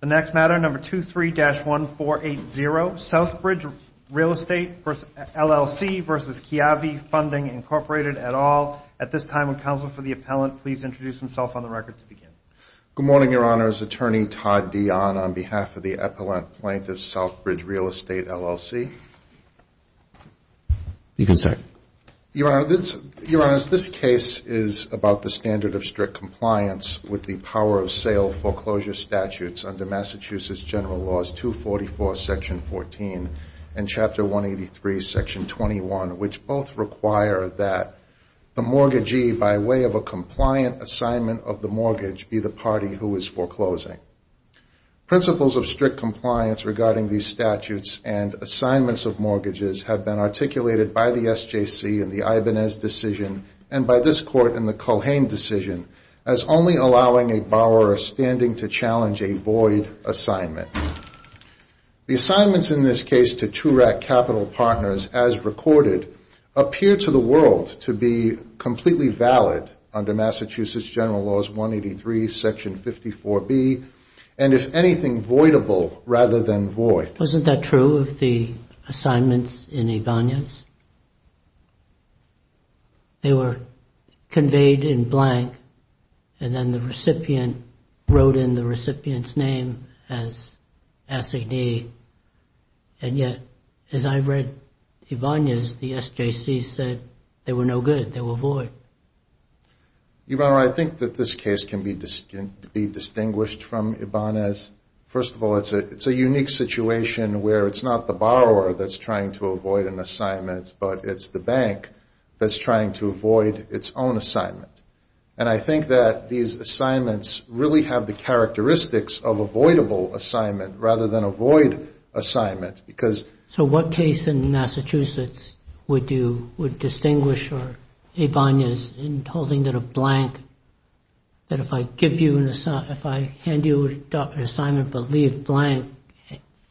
The next matter, number 23-1480, Southbridge Real Estate, LLC v. Kiavi Funding, Incorporated, et al. At this time, would counsel for the appellant please introduce himself on the record to begin. Good morning, Your Honor. It's Attorney Todd Dion on behalf of the Appellant Plaintiff, Southbridge Real Estate, LLC. You can start. I'm here to discuss the two foreclosure statutes under Massachusetts General Laws 244, Section 14, and Chapter 183, Section 21, which both require that the mortgagee, by way of a compliant assignment of the mortgage, be the party who is foreclosing. Principles of strict compliance regarding these statutes and assignments of mortgages have been articulated by the SJC in the Ibanez decision and by this Court in the Cohen decision as only allowing a borrower a standing fee of $1,000. In this case, the foreclosure statutes are intended to challenge a void assignment. The assignments in this case to TURAC Capital Partners, as recorded, appear to the world to be completely valid under Massachusetts General Laws 183, Section 54B, and if anything, voidable rather than void. Wasn't that true of the assignments in Ibanez? They were conveyed in blank and then the recipient wrote in the blank, and then the recipient wrote in the blank, and then the recipient wrote in the blank, and then the recipient wrote in the blank. And yet, as I read Ibanez, the SJC said they were no good. They were void. Your Honor, I think that this case can be distinguished from Ibanez. First of all, it's a unique situation where it's not the borrower that's trying to avoid an assignment, but it's the bank that's trying to avoid its own assignment. And I think that these assignments really have the characteristics of avoidable assignment rather than a void assignment. So what case in Massachusetts would distinguish Ibanez in holding it a blank, that if I hand you an assignment but leave blank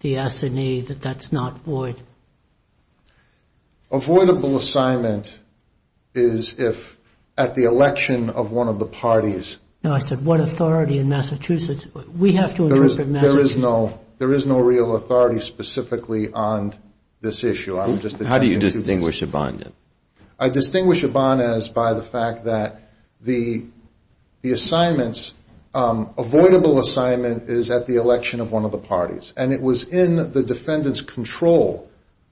the S&A, that that's not void? Avoidable assignment is if at the election of one of the parties. No, I said what authority in Massachusetts. We have to interpret Massachusetts. There is no real authority specifically on this issue. I'm just attempting to do this. How do you distinguish Ibanez? I distinguish Ibanez by the fact that the assignments, avoidable assignment is at the election of one of the parties. And it was in the defendant's control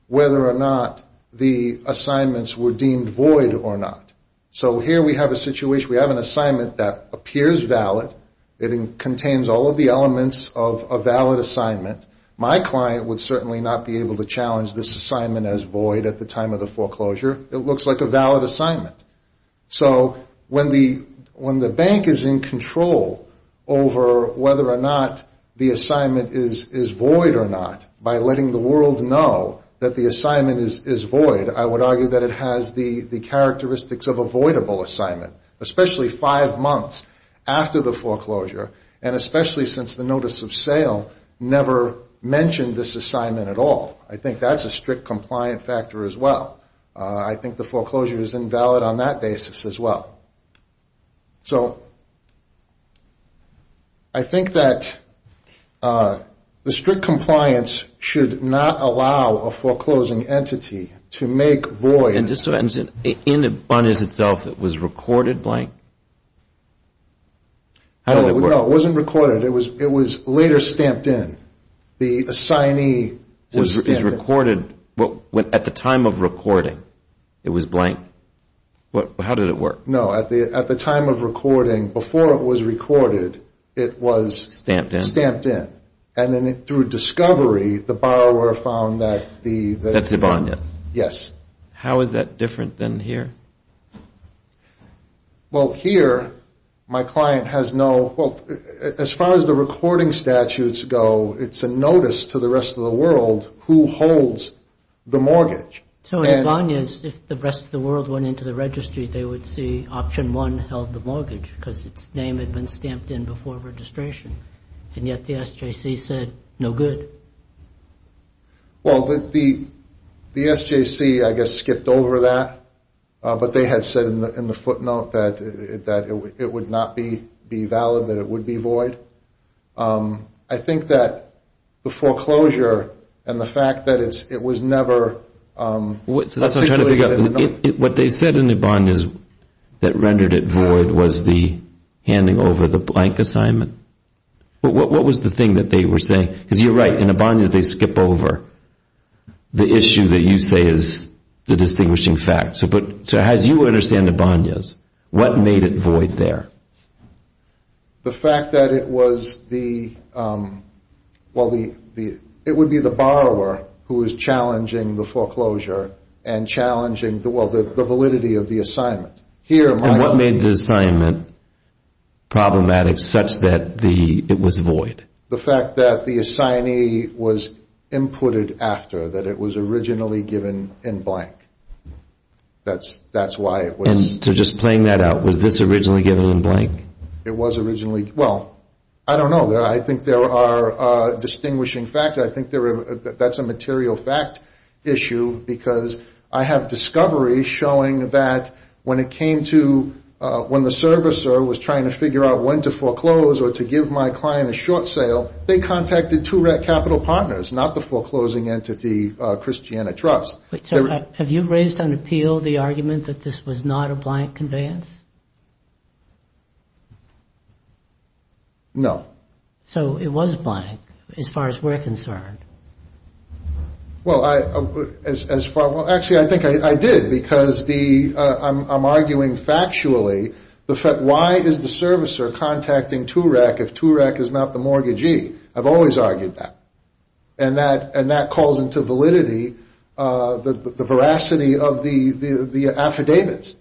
whether or not the assignments were deemed void or not. So here we have a situation. We have an assignment that appears valid. It contains all of the elements of a valid assignment. My client would certainly not be able to challenge this assignment as void at the time of the foreclosure. It looks like a valid assignment. So when the bank is in control over whether or not the assignment is valid or not, is void or not, by letting the world know that the assignment is void, I would argue that it has the characteristics of a voidable assignment. Especially five months after the foreclosure. And especially since the notice of sale never mentioned this assignment at all. I think that's a strict compliant factor as well. I think the foreclosure is invalid on that basis as well. So I think that the strict compliance should not allow a foreclosing entity to make void. In Ibanez itself, it was recorded blank? No, it wasn't recorded. It was later stamped in. The assignee was stamped in. At the time of recording, it was blank? How did it work? No, at the time of recording, before it was recorded, it was stamped in. And then through discovery, the borrower found that the... That's Ibanez? Yes. How is that different than here? Well, here, my client has no... As far as the recording statutes go, it's a notice to the rest of the world who holds the mortgage. So in Ibanez, if the rest of the world went into the registry, they would see option one held the mortgage because its name had been stamped in before registration. And yet the SJC said, no good. Well, the SJC, I guess, skipped over that. But they had said in the footnote that it would not be valid, that it would be void. I think that the foreclosure and the fact that it was never... That's what I'm trying to figure out. What they said in Ibanez that rendered it void was the handing over the blank assignment? What was the thing that they were saying? Because you're right, in Ibanez, they skip over the issue that you say is the distinguishing fact. So as you understand Ibanez, what made it void there? The fact that it was the... Well, the validity of the assignment. And what made the assignment problematic such that it was void? The fact that the assignee was inputted after, that it was originally given in blank. That's why it was... So just playing that out, was this originally given in blank? Well, I don't know. I think there are distinguishing facts. I think that's a material fact issue because I have discovery showing that when it came to... When the servicer was trying to figure out when to foreclose or to give my client a short sale, they contacted two REC Capital partners, not the foreclosing entity, Christiana Trust. Have you raised on appeal the argument that this was not a blank conveyance? No. So it was blank as far as we're concerned. Well, I... Actually, I think I did because I'm arguing factually, why is the servicer contacting two REC if two REC is not the mortgagee? I've always argued that. And that calls into validity the veracity of the affidavits.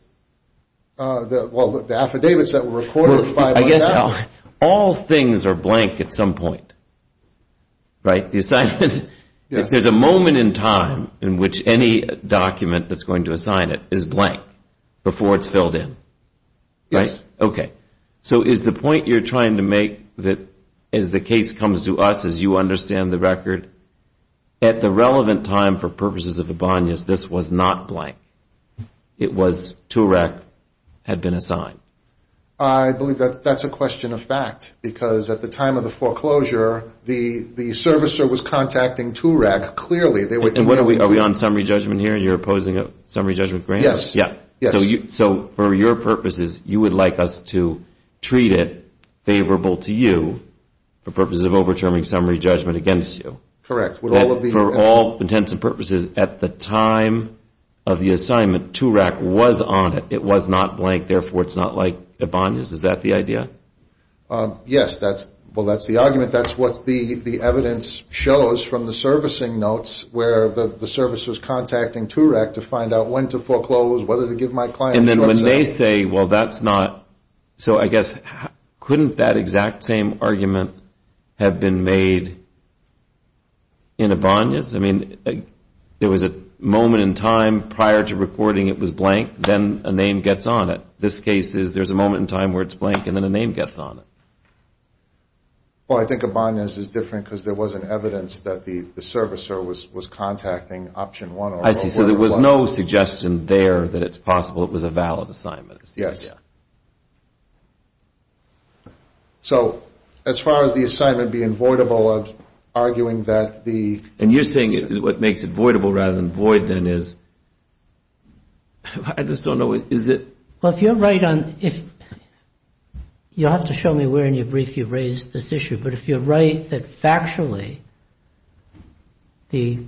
Well, the affidavits that were recorded by... I guess all things are blank at some point. Right? There's a moment in time in which any document that's going to assign it is blank before it's filled in. Right? Yes. So is the point you're trying to make that as the case comes to us, as you understand the record, at the relevant time for purposes of the Bonyas, this was not blank? It was two REC had been assigned? I believe that's a question of fact because at the time of the foreclosure, the servicer was contacting two REC clearly. Are we on summary judgment here and you're opposing a summary judgment grant? Yes. So for your purposes, you would like us to treat it favorable to you for purposes of overturning summary judgment against you? Correct. For all intents and purposes, at the time of the assignment, two REC was on it. It was not blank. Therefore, it's not like the Bonyas. Is that the idea? Yes. Well, that's the argument. That's what the evidence shows from the servicing notes where the servicer is contacting two REC to find out when to foreclose, whether to give my client a short sentence. So I guess couldn't that exact same argument have been made in a Bonyas? I mean, there was a moment in time prior to recording it was blank. Then a name gets on it. This case is there's a moment in time where it's blank and then a name gets on it. Well, I think a Bonyas is different because there wasn't evidence that the servicer was contacting option one. I see. So there was no suggestion there that it's possible it was a valid assignment. Yes. So as far as the assignment being voidable, I'm arguing that the And you're saying what makes it voidable rather than void then is I just don't know. Is it You'll have to show me where in your brief you raised this issue. But if you're right that factually the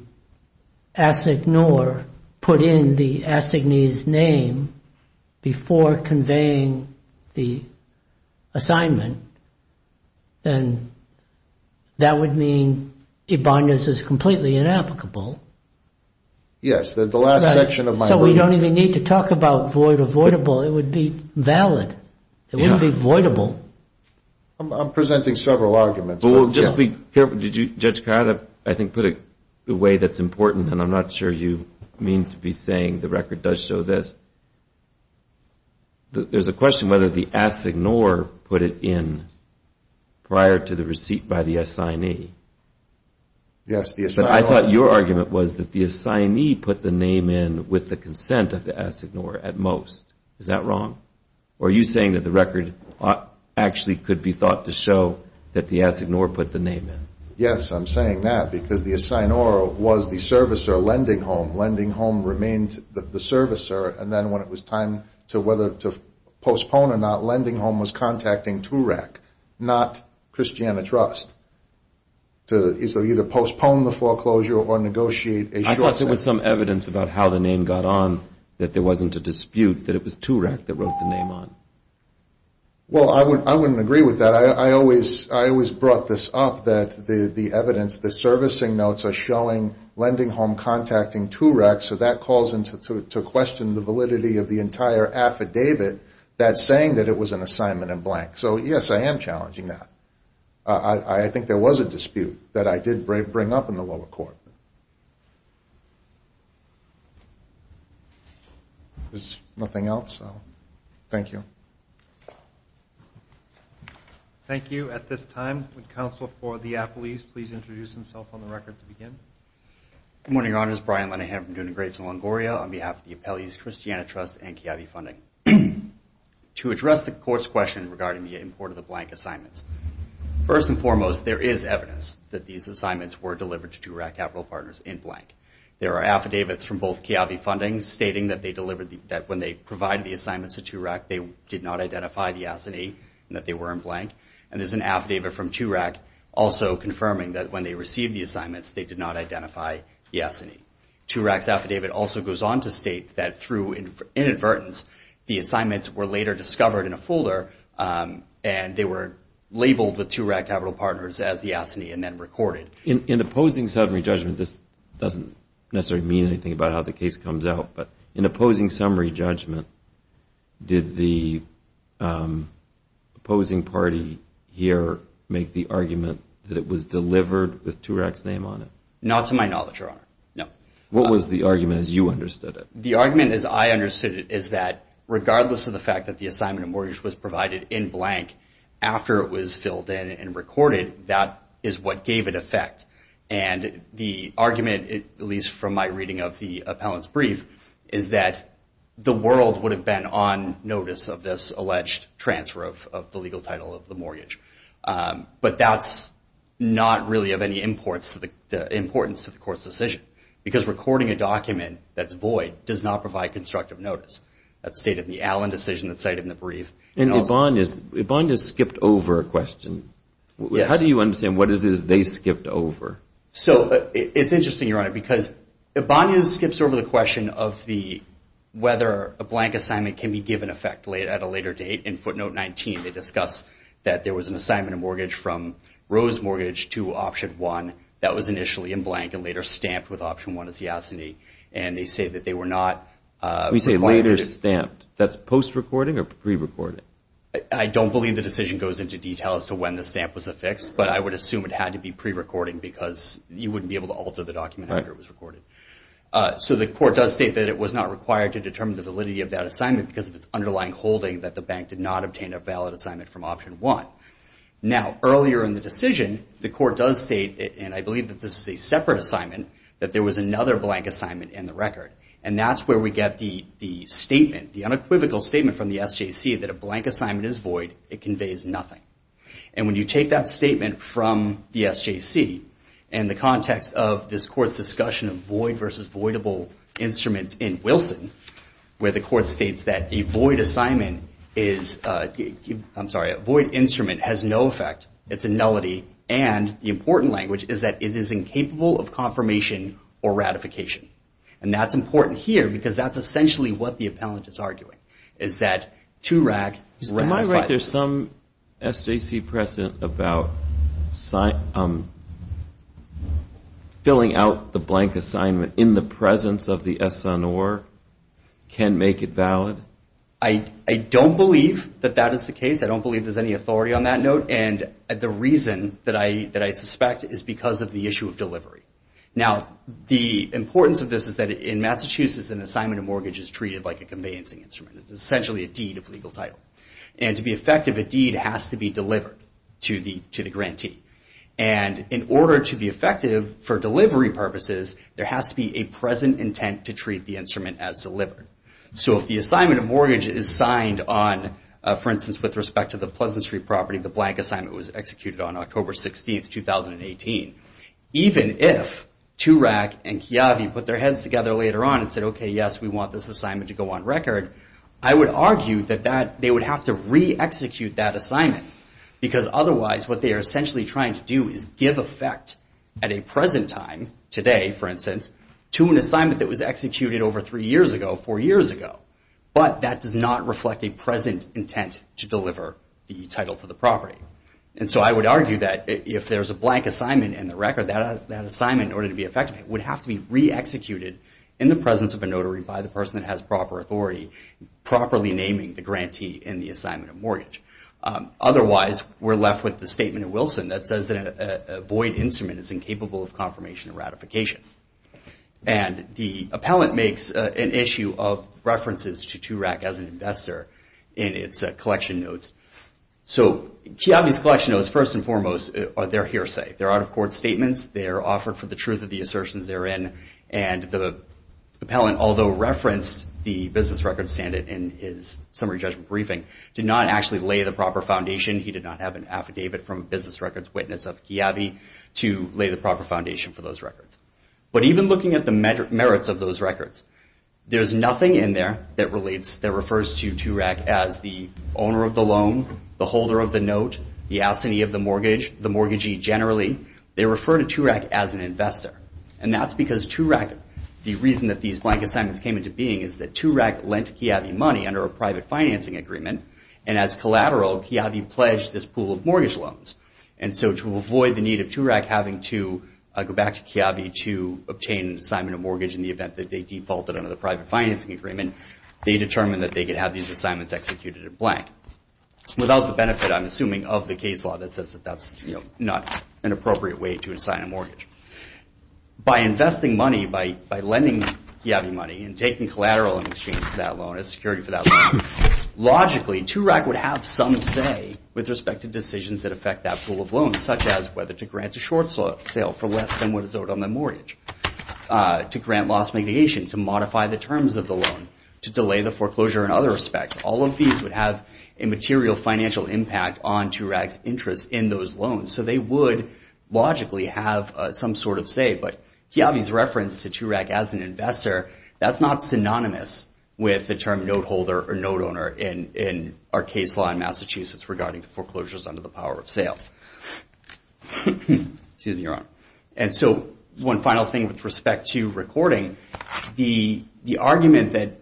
Assignor put in the Assignee's name before conveying the assignment, then that would mean a Bonyas is completely inapplicable. So we don't even need to talk about void or voidable. It would be valid. It wouldn't be voidable. I'm presenting several arguments. Well, we'll just be careful. Did you, Judge Carr, I think put it the way that's important and I'm not sure you mean to be saying the record does show this. There's a question whether the Assignor put it in prior to the receipt by the Assignee. Yes, the Assignee. I thought your argument was that the Assignee put the name in with the consent of the Assignor at most. Is that wrong? Or are you saying that the record actually could be thought to show that the Assignor put the name in? Yes, I'm saying that. Because the Assignor was the servicer lending home. Lending home remained the servicer. And then when it was time to whether to postpone or not, lending home was contacting TURAC, not Christiana Trust, to either postpone the foreclosure or negotiate a short sentence. I thought there was some evidence about how the name got on that there wasn't a dispute that it was TURAC that wrote the name on. Well, I wouldn't agree with that. I always brought this up that the evidence, the servicing notes are showing lending home contacting TURAC, so that calls into question the validity of the entire affidavit that's saying that it was an assignment in blank. So, yes, I am challenging that. I think there was a dispute that I did bring up in the lower court. There's nothing else. Thank you. Thank you. At this time, would Counsel for the Appellees please introduce himself on the record to begin? Good morning, Your Honors. Brian Linehan from Duna Graves in Longoria on behalf of the Appellees, Christiana Trust, and CAB funding. To address the Court's question regarding the import of the blank assignments, first and foremost, there is evidence that these assignments were delivered to TURAC Capital Partners in blank. There are affidavits from both CAB funding stating that when they provided the assignments to TURAC, they did not identify the S&E and that they were in blank. And there's an affidavit from TURAC also confirming that when they received the assignments they did not identify the S&E. TURAC's affidavit also goes on to state that through inadvertence, the assignments were later discovered in a folder and they were labeled with TURAC Capital Partners as the S&E and then recorded. In opposing summary judgment, this doesn't necessarily mean anything about how the case comes out, but in opposing summary judgment, did the opposing party here make the argument that it was delivered with TURAC's name on it? Not to my knowledge, Your Honor. What was the argument as you understood it? The argument as I understood it is that regardless of the fact that the assignment of mortgage was provided in blank after it was filled in and recorded, that is what gave it effect. And the argument, at least from my reading of the appellant's brief, is that the world would have been on notice of this alleged transfer of the legal title of the mortgage. But that's not really of any importance to the Court's decision because recording a document that's void does not provide constructive notice. That's stated in the Allen decision that's stated in the Allen decision. Ibanez skipped over a question. How do you understand what it is they skipped over? So, it's interesting, Your Honor, because Ibanez skips over the question of whether a blank assignment can be given effect at a later date. In footnote 19, they discuss that there was an assignment of mortgage from Rose Mortgage to Option 1 that was initially in blank and later stamped with Option 1 as the S&E and they say that they were not... You say later stamped. That's post-recording or the decision goes into detail as to when the stamp was affixed, but I would assume it had to be pre-recording because you wouldn't be able to alter the document after it was recorded. So, the Court does state that it was not required to determine the validity of that assignment because of its underlying holding that the bank did not obtain a valid assignment from Option 1. Now, earlier in the decision, the Court does state, and I believe that this is a separate assignment, that there was another blank assignment in the record. And that's where we get the statement, the unequivocal statement from the SJC that a blank assignment is void, it conveys nothing. And when you take that statement from the SJC, in the context of this Court's discussion of void versus voidable instruments in Wilson, where the Court states that a void assignment is... I'm sorry, a void instrument has no effect, it's a nullity, and the important language is that it is incapable of confirmation or ratification. And that's important here because that's essentially what the appellant is arguing, is that 2 RAG is ratified. Am I right that there's some SJC precedent about filling out the blank assignment in the presence of the SONOR can make it valid? I don't believe that that is the case. I don't believe there's any authority on that note. And the reason that I suspect is because of the issue of delivery. Now, the importance of this is that in Massachusetts an assignment of mortgage is treated like a conveyancing instrument, essentially a deed of legal title. And to be effective, a deed has to be delivered to the grantee. And in order to be effective for delivery purposes, there has to be a present intent to treat the instrument as delivered. So if the assignment of mortgage is signed on, for instance, with respect to the Pleasant Street property, the blank assignment was executed on October 16, 2018, even if 2 RAG and later on said, okay, yes, we want this assignment to go on record, I would argue that they would have to re-execute that assignment. Because otherwise, what they are essentially trying to do is give effect at a present time, today, for instance, to an assignment that was executed over 3 years ago, 4 years ago. But that does not reflect a present intent to deliver the title to the property. And so I would argue that if there's a blank assignment in the record, that assignment, in order to be effective, would have to be re-executed in the presence of a notary by the person that has proper authority, properly naming the grantee in the assignment of mortgage. Otherwise, we're left with the statement of Wilson that says that a void instrument is incapable of confirmation and ratification. And the appellant makes an issue of references to 2 RAG as an investor in its collection notes. So Chiavi's collection notes, first and foremost, are their hearsay. They're out-of-court versions therein. And the appellant, although referenced the business record standard in his summary judgment briefing, did not actually lay the proper foundation. He did not have an affidavit from a business records witness of Chiavi to lay the proper foundation for those records. But even looking at the merits of those records, there's nothing in there that refers to 2 RAG as the owner of the loan, the holder of the note, the assignee of the mortgage, the mortgagee generally. They refer to 2 RAG as an investor. And that's because 2 RAG, the reason that these blank assignments came into being is that 2 RAG lent Chiavi money under a private financing agreement. And as collateral, Chiavi pledged this pool of mortgage loans. And so to avoid the need of 2 RAG having to go back to Chiavi to obtain an assignment of mortgage in the event that they defaulted under the private financing agreement, they determined that they could have these assignments executed in blank. Without the benefit, I'm assuming, of the case law that says that that's not an appropriate way to assign a mortgage. By investing money, by lending Chiavi money and taking collateral in exchange for that loan as security for that loan, logically, 2 RAG would have some say with respect to decisions that affect that pool of loans, such as whether to grant a short sale for less than what is owed on that mortgage, to grant loss mitigation, to modify the terms of the loan, to delay the foreclosure in other respects. All of these would have a material financial impact on 2 RAG's interest in those loans. So they would logically have some sort of say. But Chiavi's reference to 2 RAG as an investor, that's not synonymous with the term note holder or note owner in our case law in Massachusetts regarding foreclosures under the power of sale. Excuse me, Your Honor. And so one final thing with respect to recording. The argument that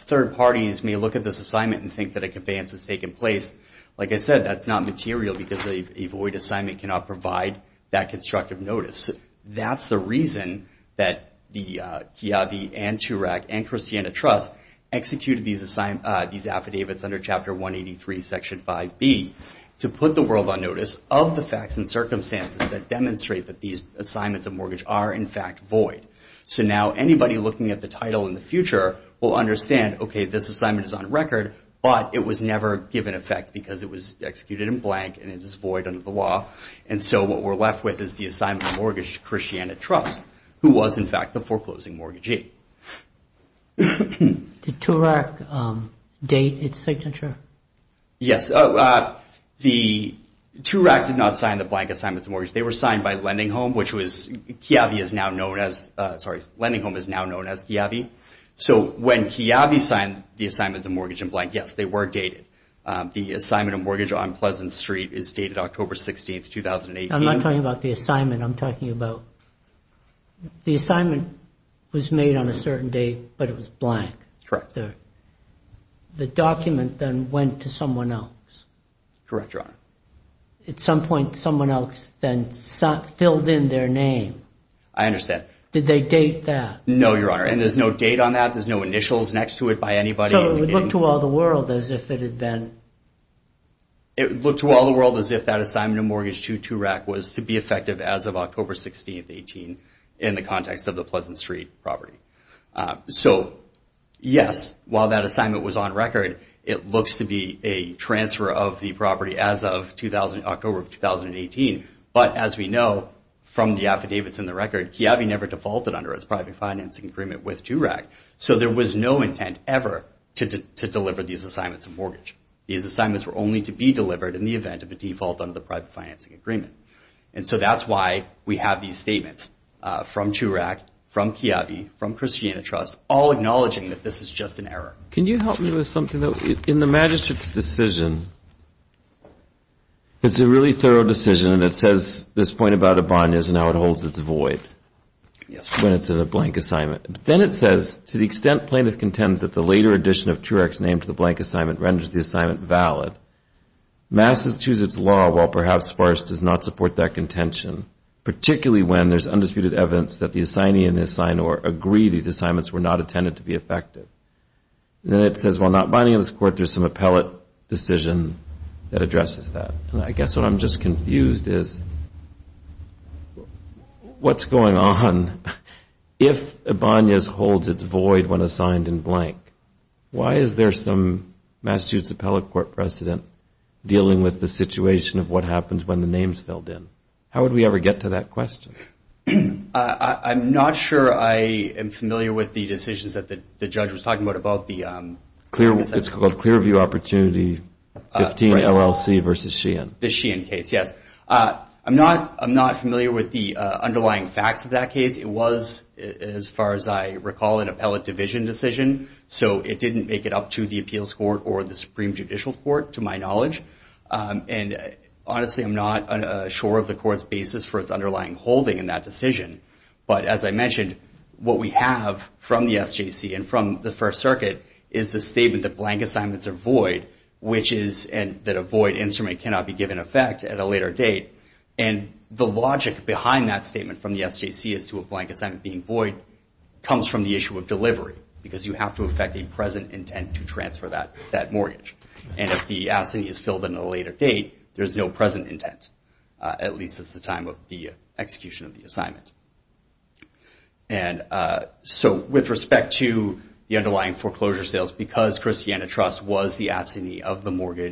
third parties may look at this assignment and think that a that's not material because a void assignment cannot provide that constructive notice. That's the reason that the Chiavi and 2 RAG and Christiana Trust executed these affidavits under Chapter 183, Section 5B to put the world on notice of the facts and circumstances that demonstrate that these assignments of mortgage are in fact void. So now anybody looking at the title in the future will understand, okay, this assignment is on record, but it was executed in blank and it is void under the law. And so what we're left with is the assignment of mortgage to Christiana Trust, who was in fact the foreclosing mortgagee. Did 2 RAG date its signature? Yes. The 2 RAG did not sign the blank assignment of mortgage. They were signed by Lending Home, which was Chiavi is now known as, sorry, Lending Home is now known as Chiavi. So when Chiavi signed the assignment of mortgage in blank, yes, they were dated. The assignment of mortgage on Pleasant Street is dated October 16, 2018. I'm not talking about the assignment. I'm talking about the assignment was made on a certain date, but it was blank. Correct. The document then went to someone else. Correct, Your Honor. At some point, someone else then filled in their name. I understand. Did they date that? No, Your Honor, and there's no date on that. There's no initials next to it by anybody. So it looked to all the world as if it had been... It looked to all the world as if that assignment of mortgage to 2 RAG was to be effective as of October 16, 2018 in the context of the Pleasant Street property. So, yes, while that assignment was on record, it looks to be a transfer of the property as of October of 2018, but as we know from the affidavits in the record, Chiavi never defaulted under its private financing agreement with 2 RAG. So there was no intent ever to deliver these assignments of mortgage. These assignments were only to be delivered in the event of a default under the private financing agreement. And so that's why we have these statements from 2 RAG, from Chiavi, from Christiana Trust, all acknowledging that this is just an error. Can you help me with something? In the magistrate's decision, it's a really thorough decision, and it says this point about a bond is and how it holds its void when it's a blank assignment. Then it says, to the extent plaintiff contends that the later addition of 2 RAG's name to the blank assignment renders the assignment valid, Massachusetts law, while perhaps sparse, does not support that contention, particularly when there's undisputed evidence that the assignee and assignor agree these assignments were not intended to be effective. Then it says, while not binding on this court, there's some appellate decision that addresses that. I guess what I'm just confused is what's going on if a bond holds its void when assigned in blank? Why is there some Massachusetts Appellate Court precedent dealing with the situation of what happens when the name's filled in? How would we ever get to that question? I'm not sure I am familiar with the decisions that the judge was talking about about the... It's called Clearview Opportunity 15 LLC versus Sheehan. The Sheehan case, yes. I'm not familiar with the underlying facts of that case. It was, as far as I recall, an appellate division decision. It didn't make it up to the appeals court or the Supreme Judicial Court, to my knowledge. Honestly, I'm not sure of the court's basis for its underlying holding in that decision. But as I mentioned, what we have from the SJC and from the First Circuit is the statement that blank assignments are void, which is that a void instrument cannot be given effect at a later date. The logic behind that statement from the SJC as to a blank assignment being void comes from the issue of delivery, because you have to affect a present intent to transfer that mortgage. If the assignee is filled in at a later date, there's no present intent, at least at the time of the execution of the assignment. With respect to the underlying foreclosure sales, because Christiana Trust was the owner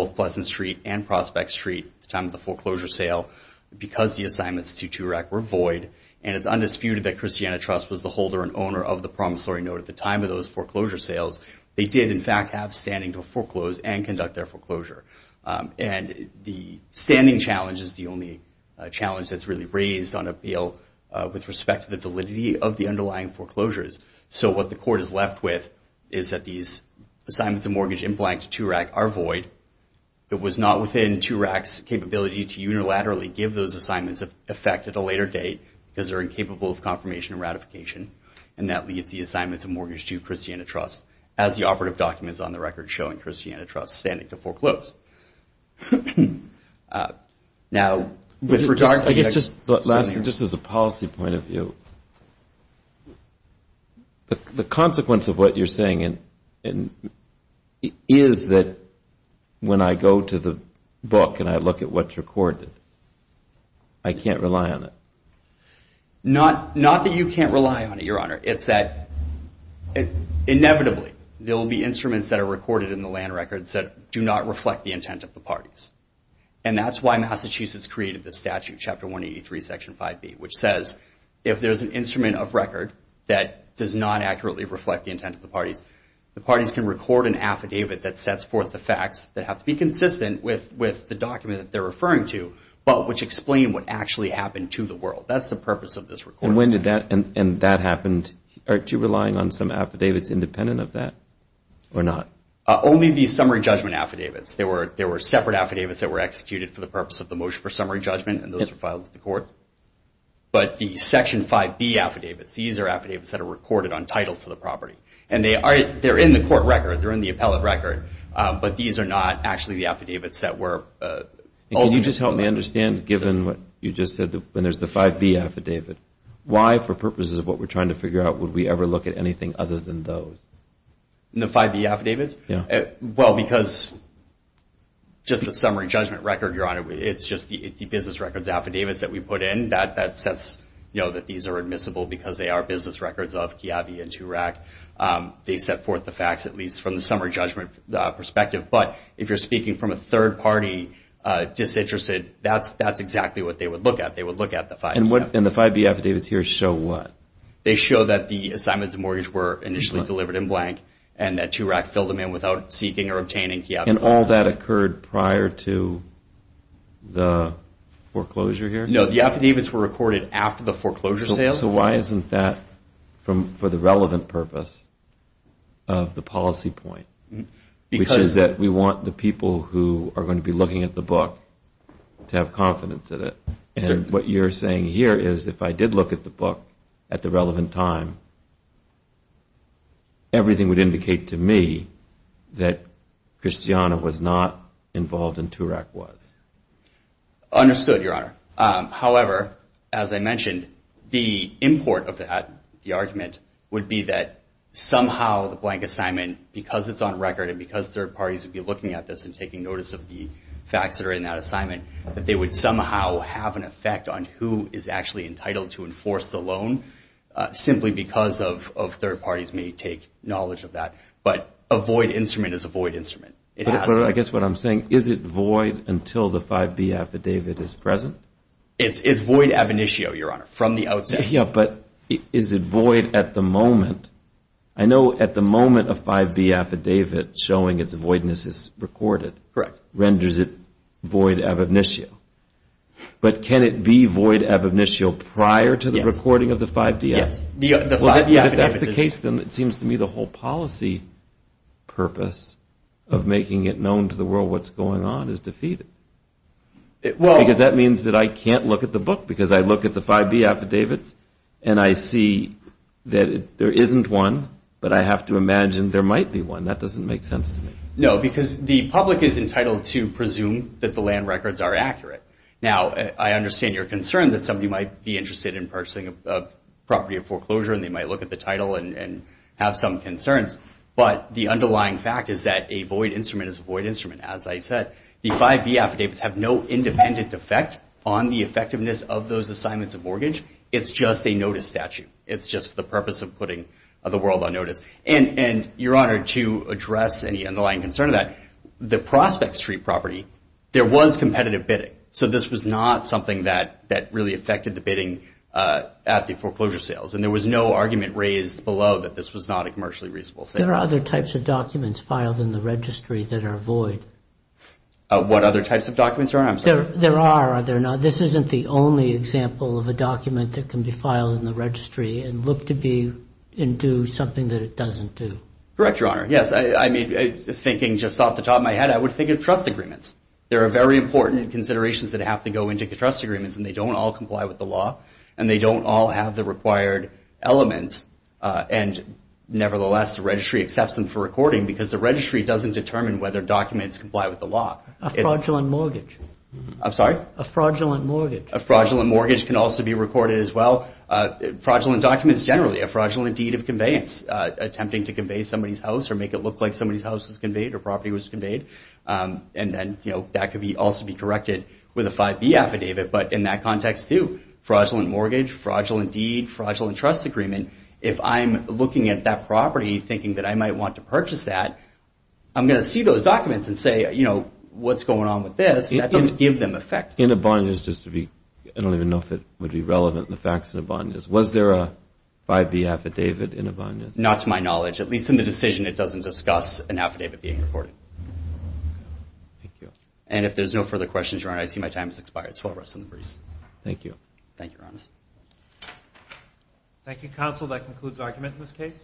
of Boston Street and Prospect Street at the time of the foreclosure sale, because the assignments to TURAC were void, and it's undisputed that Christiana Trust was the holder and owner of the promissory note at the time of those foreclosure sales, they did in fact have standing to foreclose and conduct their foreclosure. The standing challenge is the only challenge that's really raised on appeal with respect to the validity of the underlying foreclosures. So what the court is left with is that these assignments of mortgage in blank to TURAC are void. It was not within TURAC's capability to unilaterally give those assignments effect at a later date, because they're incapable of confirmation and ratification, and that leaves the assignments of mortgage to Christiana Trust, as the operative documents on the record show in Christiana Trust standing to foreclose. Now, with regard to... The consequence of what you're saying is that when I go to the book and I look at what's recorded, I can't rely on it. Not that you can't rely on it, Your Honor. It's that inevitably there will be instruments that are recorded in the land records that do not reflect the intent of the parties. And that's why Massachusetts created this statute, Chapter 183, Section 5B, which says if there's an instrument of record that does not accurately reflect the intent of the parties, the parties can record an affidavit that sets forth the facts that have to be consistent with the document that they're referring to, but which explain what actually happened to the world. That's the purpose of this record. And when did that and that happen? Are you relying on some affidavits independent of that, or not? Only the summary judgment affidavits. There were separate affidavits that were executed for the purpose of the motion for summary judgment, and those were filed with the court. But the Section 5B affidavits, these are affidavits that are recorded on title to the property. And they're in the court record. They're in the appellate record. But these are not actually the affidavits that were... Can you just help me understand, given what you just said, when there's the 5B affidavit, why, for purposes of what we're trying to figure out, would we ever look at anything other than those? The 5B affidavits? Well, because just the summary judgment record, Your Honor, it's just the business records affidavits that we put in that sets, you know, that these are admissible because they are business records of Kiabi and Turack. They set forth the facts, at least from the summary judgment perspective. But if you're speaking from a third party disinterested, that's exactly what they would look at. They would look at the 5B affidavits. And the 5B affidavits here show what? They show that the assignments of mortgage were initially delivered in blank, and that Turack filled them in without seeking or obtaining Kiabi's office. And all that occurred prior to the affidavits were recorded after the foreclosure sale. So why isn't that for the relevant purpose of the policy point? Because... Which is that we want the people who are going to be looking at the book to have confidence in it. And what you're saying here is if I did look at the book at the relevant time, everything would indicate to me that Christiana was not involved in Turack was. Understood, Your Honor. However, as I mentioned, the import of that, the argument, would be that somehow the blank assignment, because it's on record and because third parties would be looking at this and taking notice of the facts that are in that assignment, that they would somehow have an effect on who is actually entitled to enforce the loan, simply because third parties may take knowledge of that. But a void instrument is a void instrument. But I guess what I'm saying, is it void until the 5B affidavit is present? It's void ab initio, Your Honor, from the outset. Yeah, but is it void at the moment? I know at the moment a 5B affidavit showing its voidness is recorded renders it void ab initio. But can it be void ab initio prior to the recording of the 5DF? If that's the case, then it seems to me the whole policy purpose of making it known to the world what's going on is defeated. Because that means that I can't look at the book because I look at the 5B affidavits and I see that there isn't one, but I have to imagine there might be one. That doesn't make sense to me. No, because the public is entitled to presume that the land records are accurate. Now, I understand your concern that somebody might be interested in purchasing a property of foreclosure and they might look at the title and have some concerns. But the underlying fact is that a void instrument is a void instrument, as I said. The 5B affidavits have no independent effect on the effectiveness of those assignments of mortgage. It's just a notice statute. It's just for the purpose of putting the world on notice. And, Your Honor, to address any underlying concern of that, the Prospect Street property, there was competitive bidding. So this was not something that really affected the bidding at the foreclosure sales. And there was no argument raised below that this was not a commercially reasonable sale. There are other types of documents filed in the registry that are void. What other types of documents, Your Honor? I'm sorry. There are. This isn't the only example of a document that can be filed in the registry and look to be and do something that it doesn't do. Correct, Your Honor. Yes. I mean, thinking just off the top of my head, I would think of trust agreements. There are very important considerations that have to go into the trust agreements, and they don't all comply with the law and they don't all have the required elements. And nevertheless, the registry accepts them for recording because the registry doesn't determine whether documents comply with the law. A fraudulent mortgage. I'm sorry? A fraudulent mortgage. A fraudulent mortgage can also be recorded as well. Fraudulent documents generally, a fraudulent deed of conveyance, attempting to convey somebody's house or make it look like somebody's house was conveyed or property was conveyed. And then, you know, that could also be corrected with a 5B affidavit. But in that context, too, fraudulent mortgage, fraudulent deed, fraudulent trust agreement, if I'm looking at that property thinking that I might want to purchase that, I'm going to see those documents and say, you know, what's going on with this? And that doesn't give them effect. In a bondage, just to be I don't even know if it would be relevant, the facts in a bondage. Was there a 5B affidavit in a bondage? Not to my knowledge. At least in the decision, it doesn't discuss an affidavit being recorded. Thank you. And if there's no further questions, Your Honor, I see my time has expired. So I'll rest in the breeze. Thank you. Thank you, Your Honor. Thank you, Counsel. That concludes argument in this case.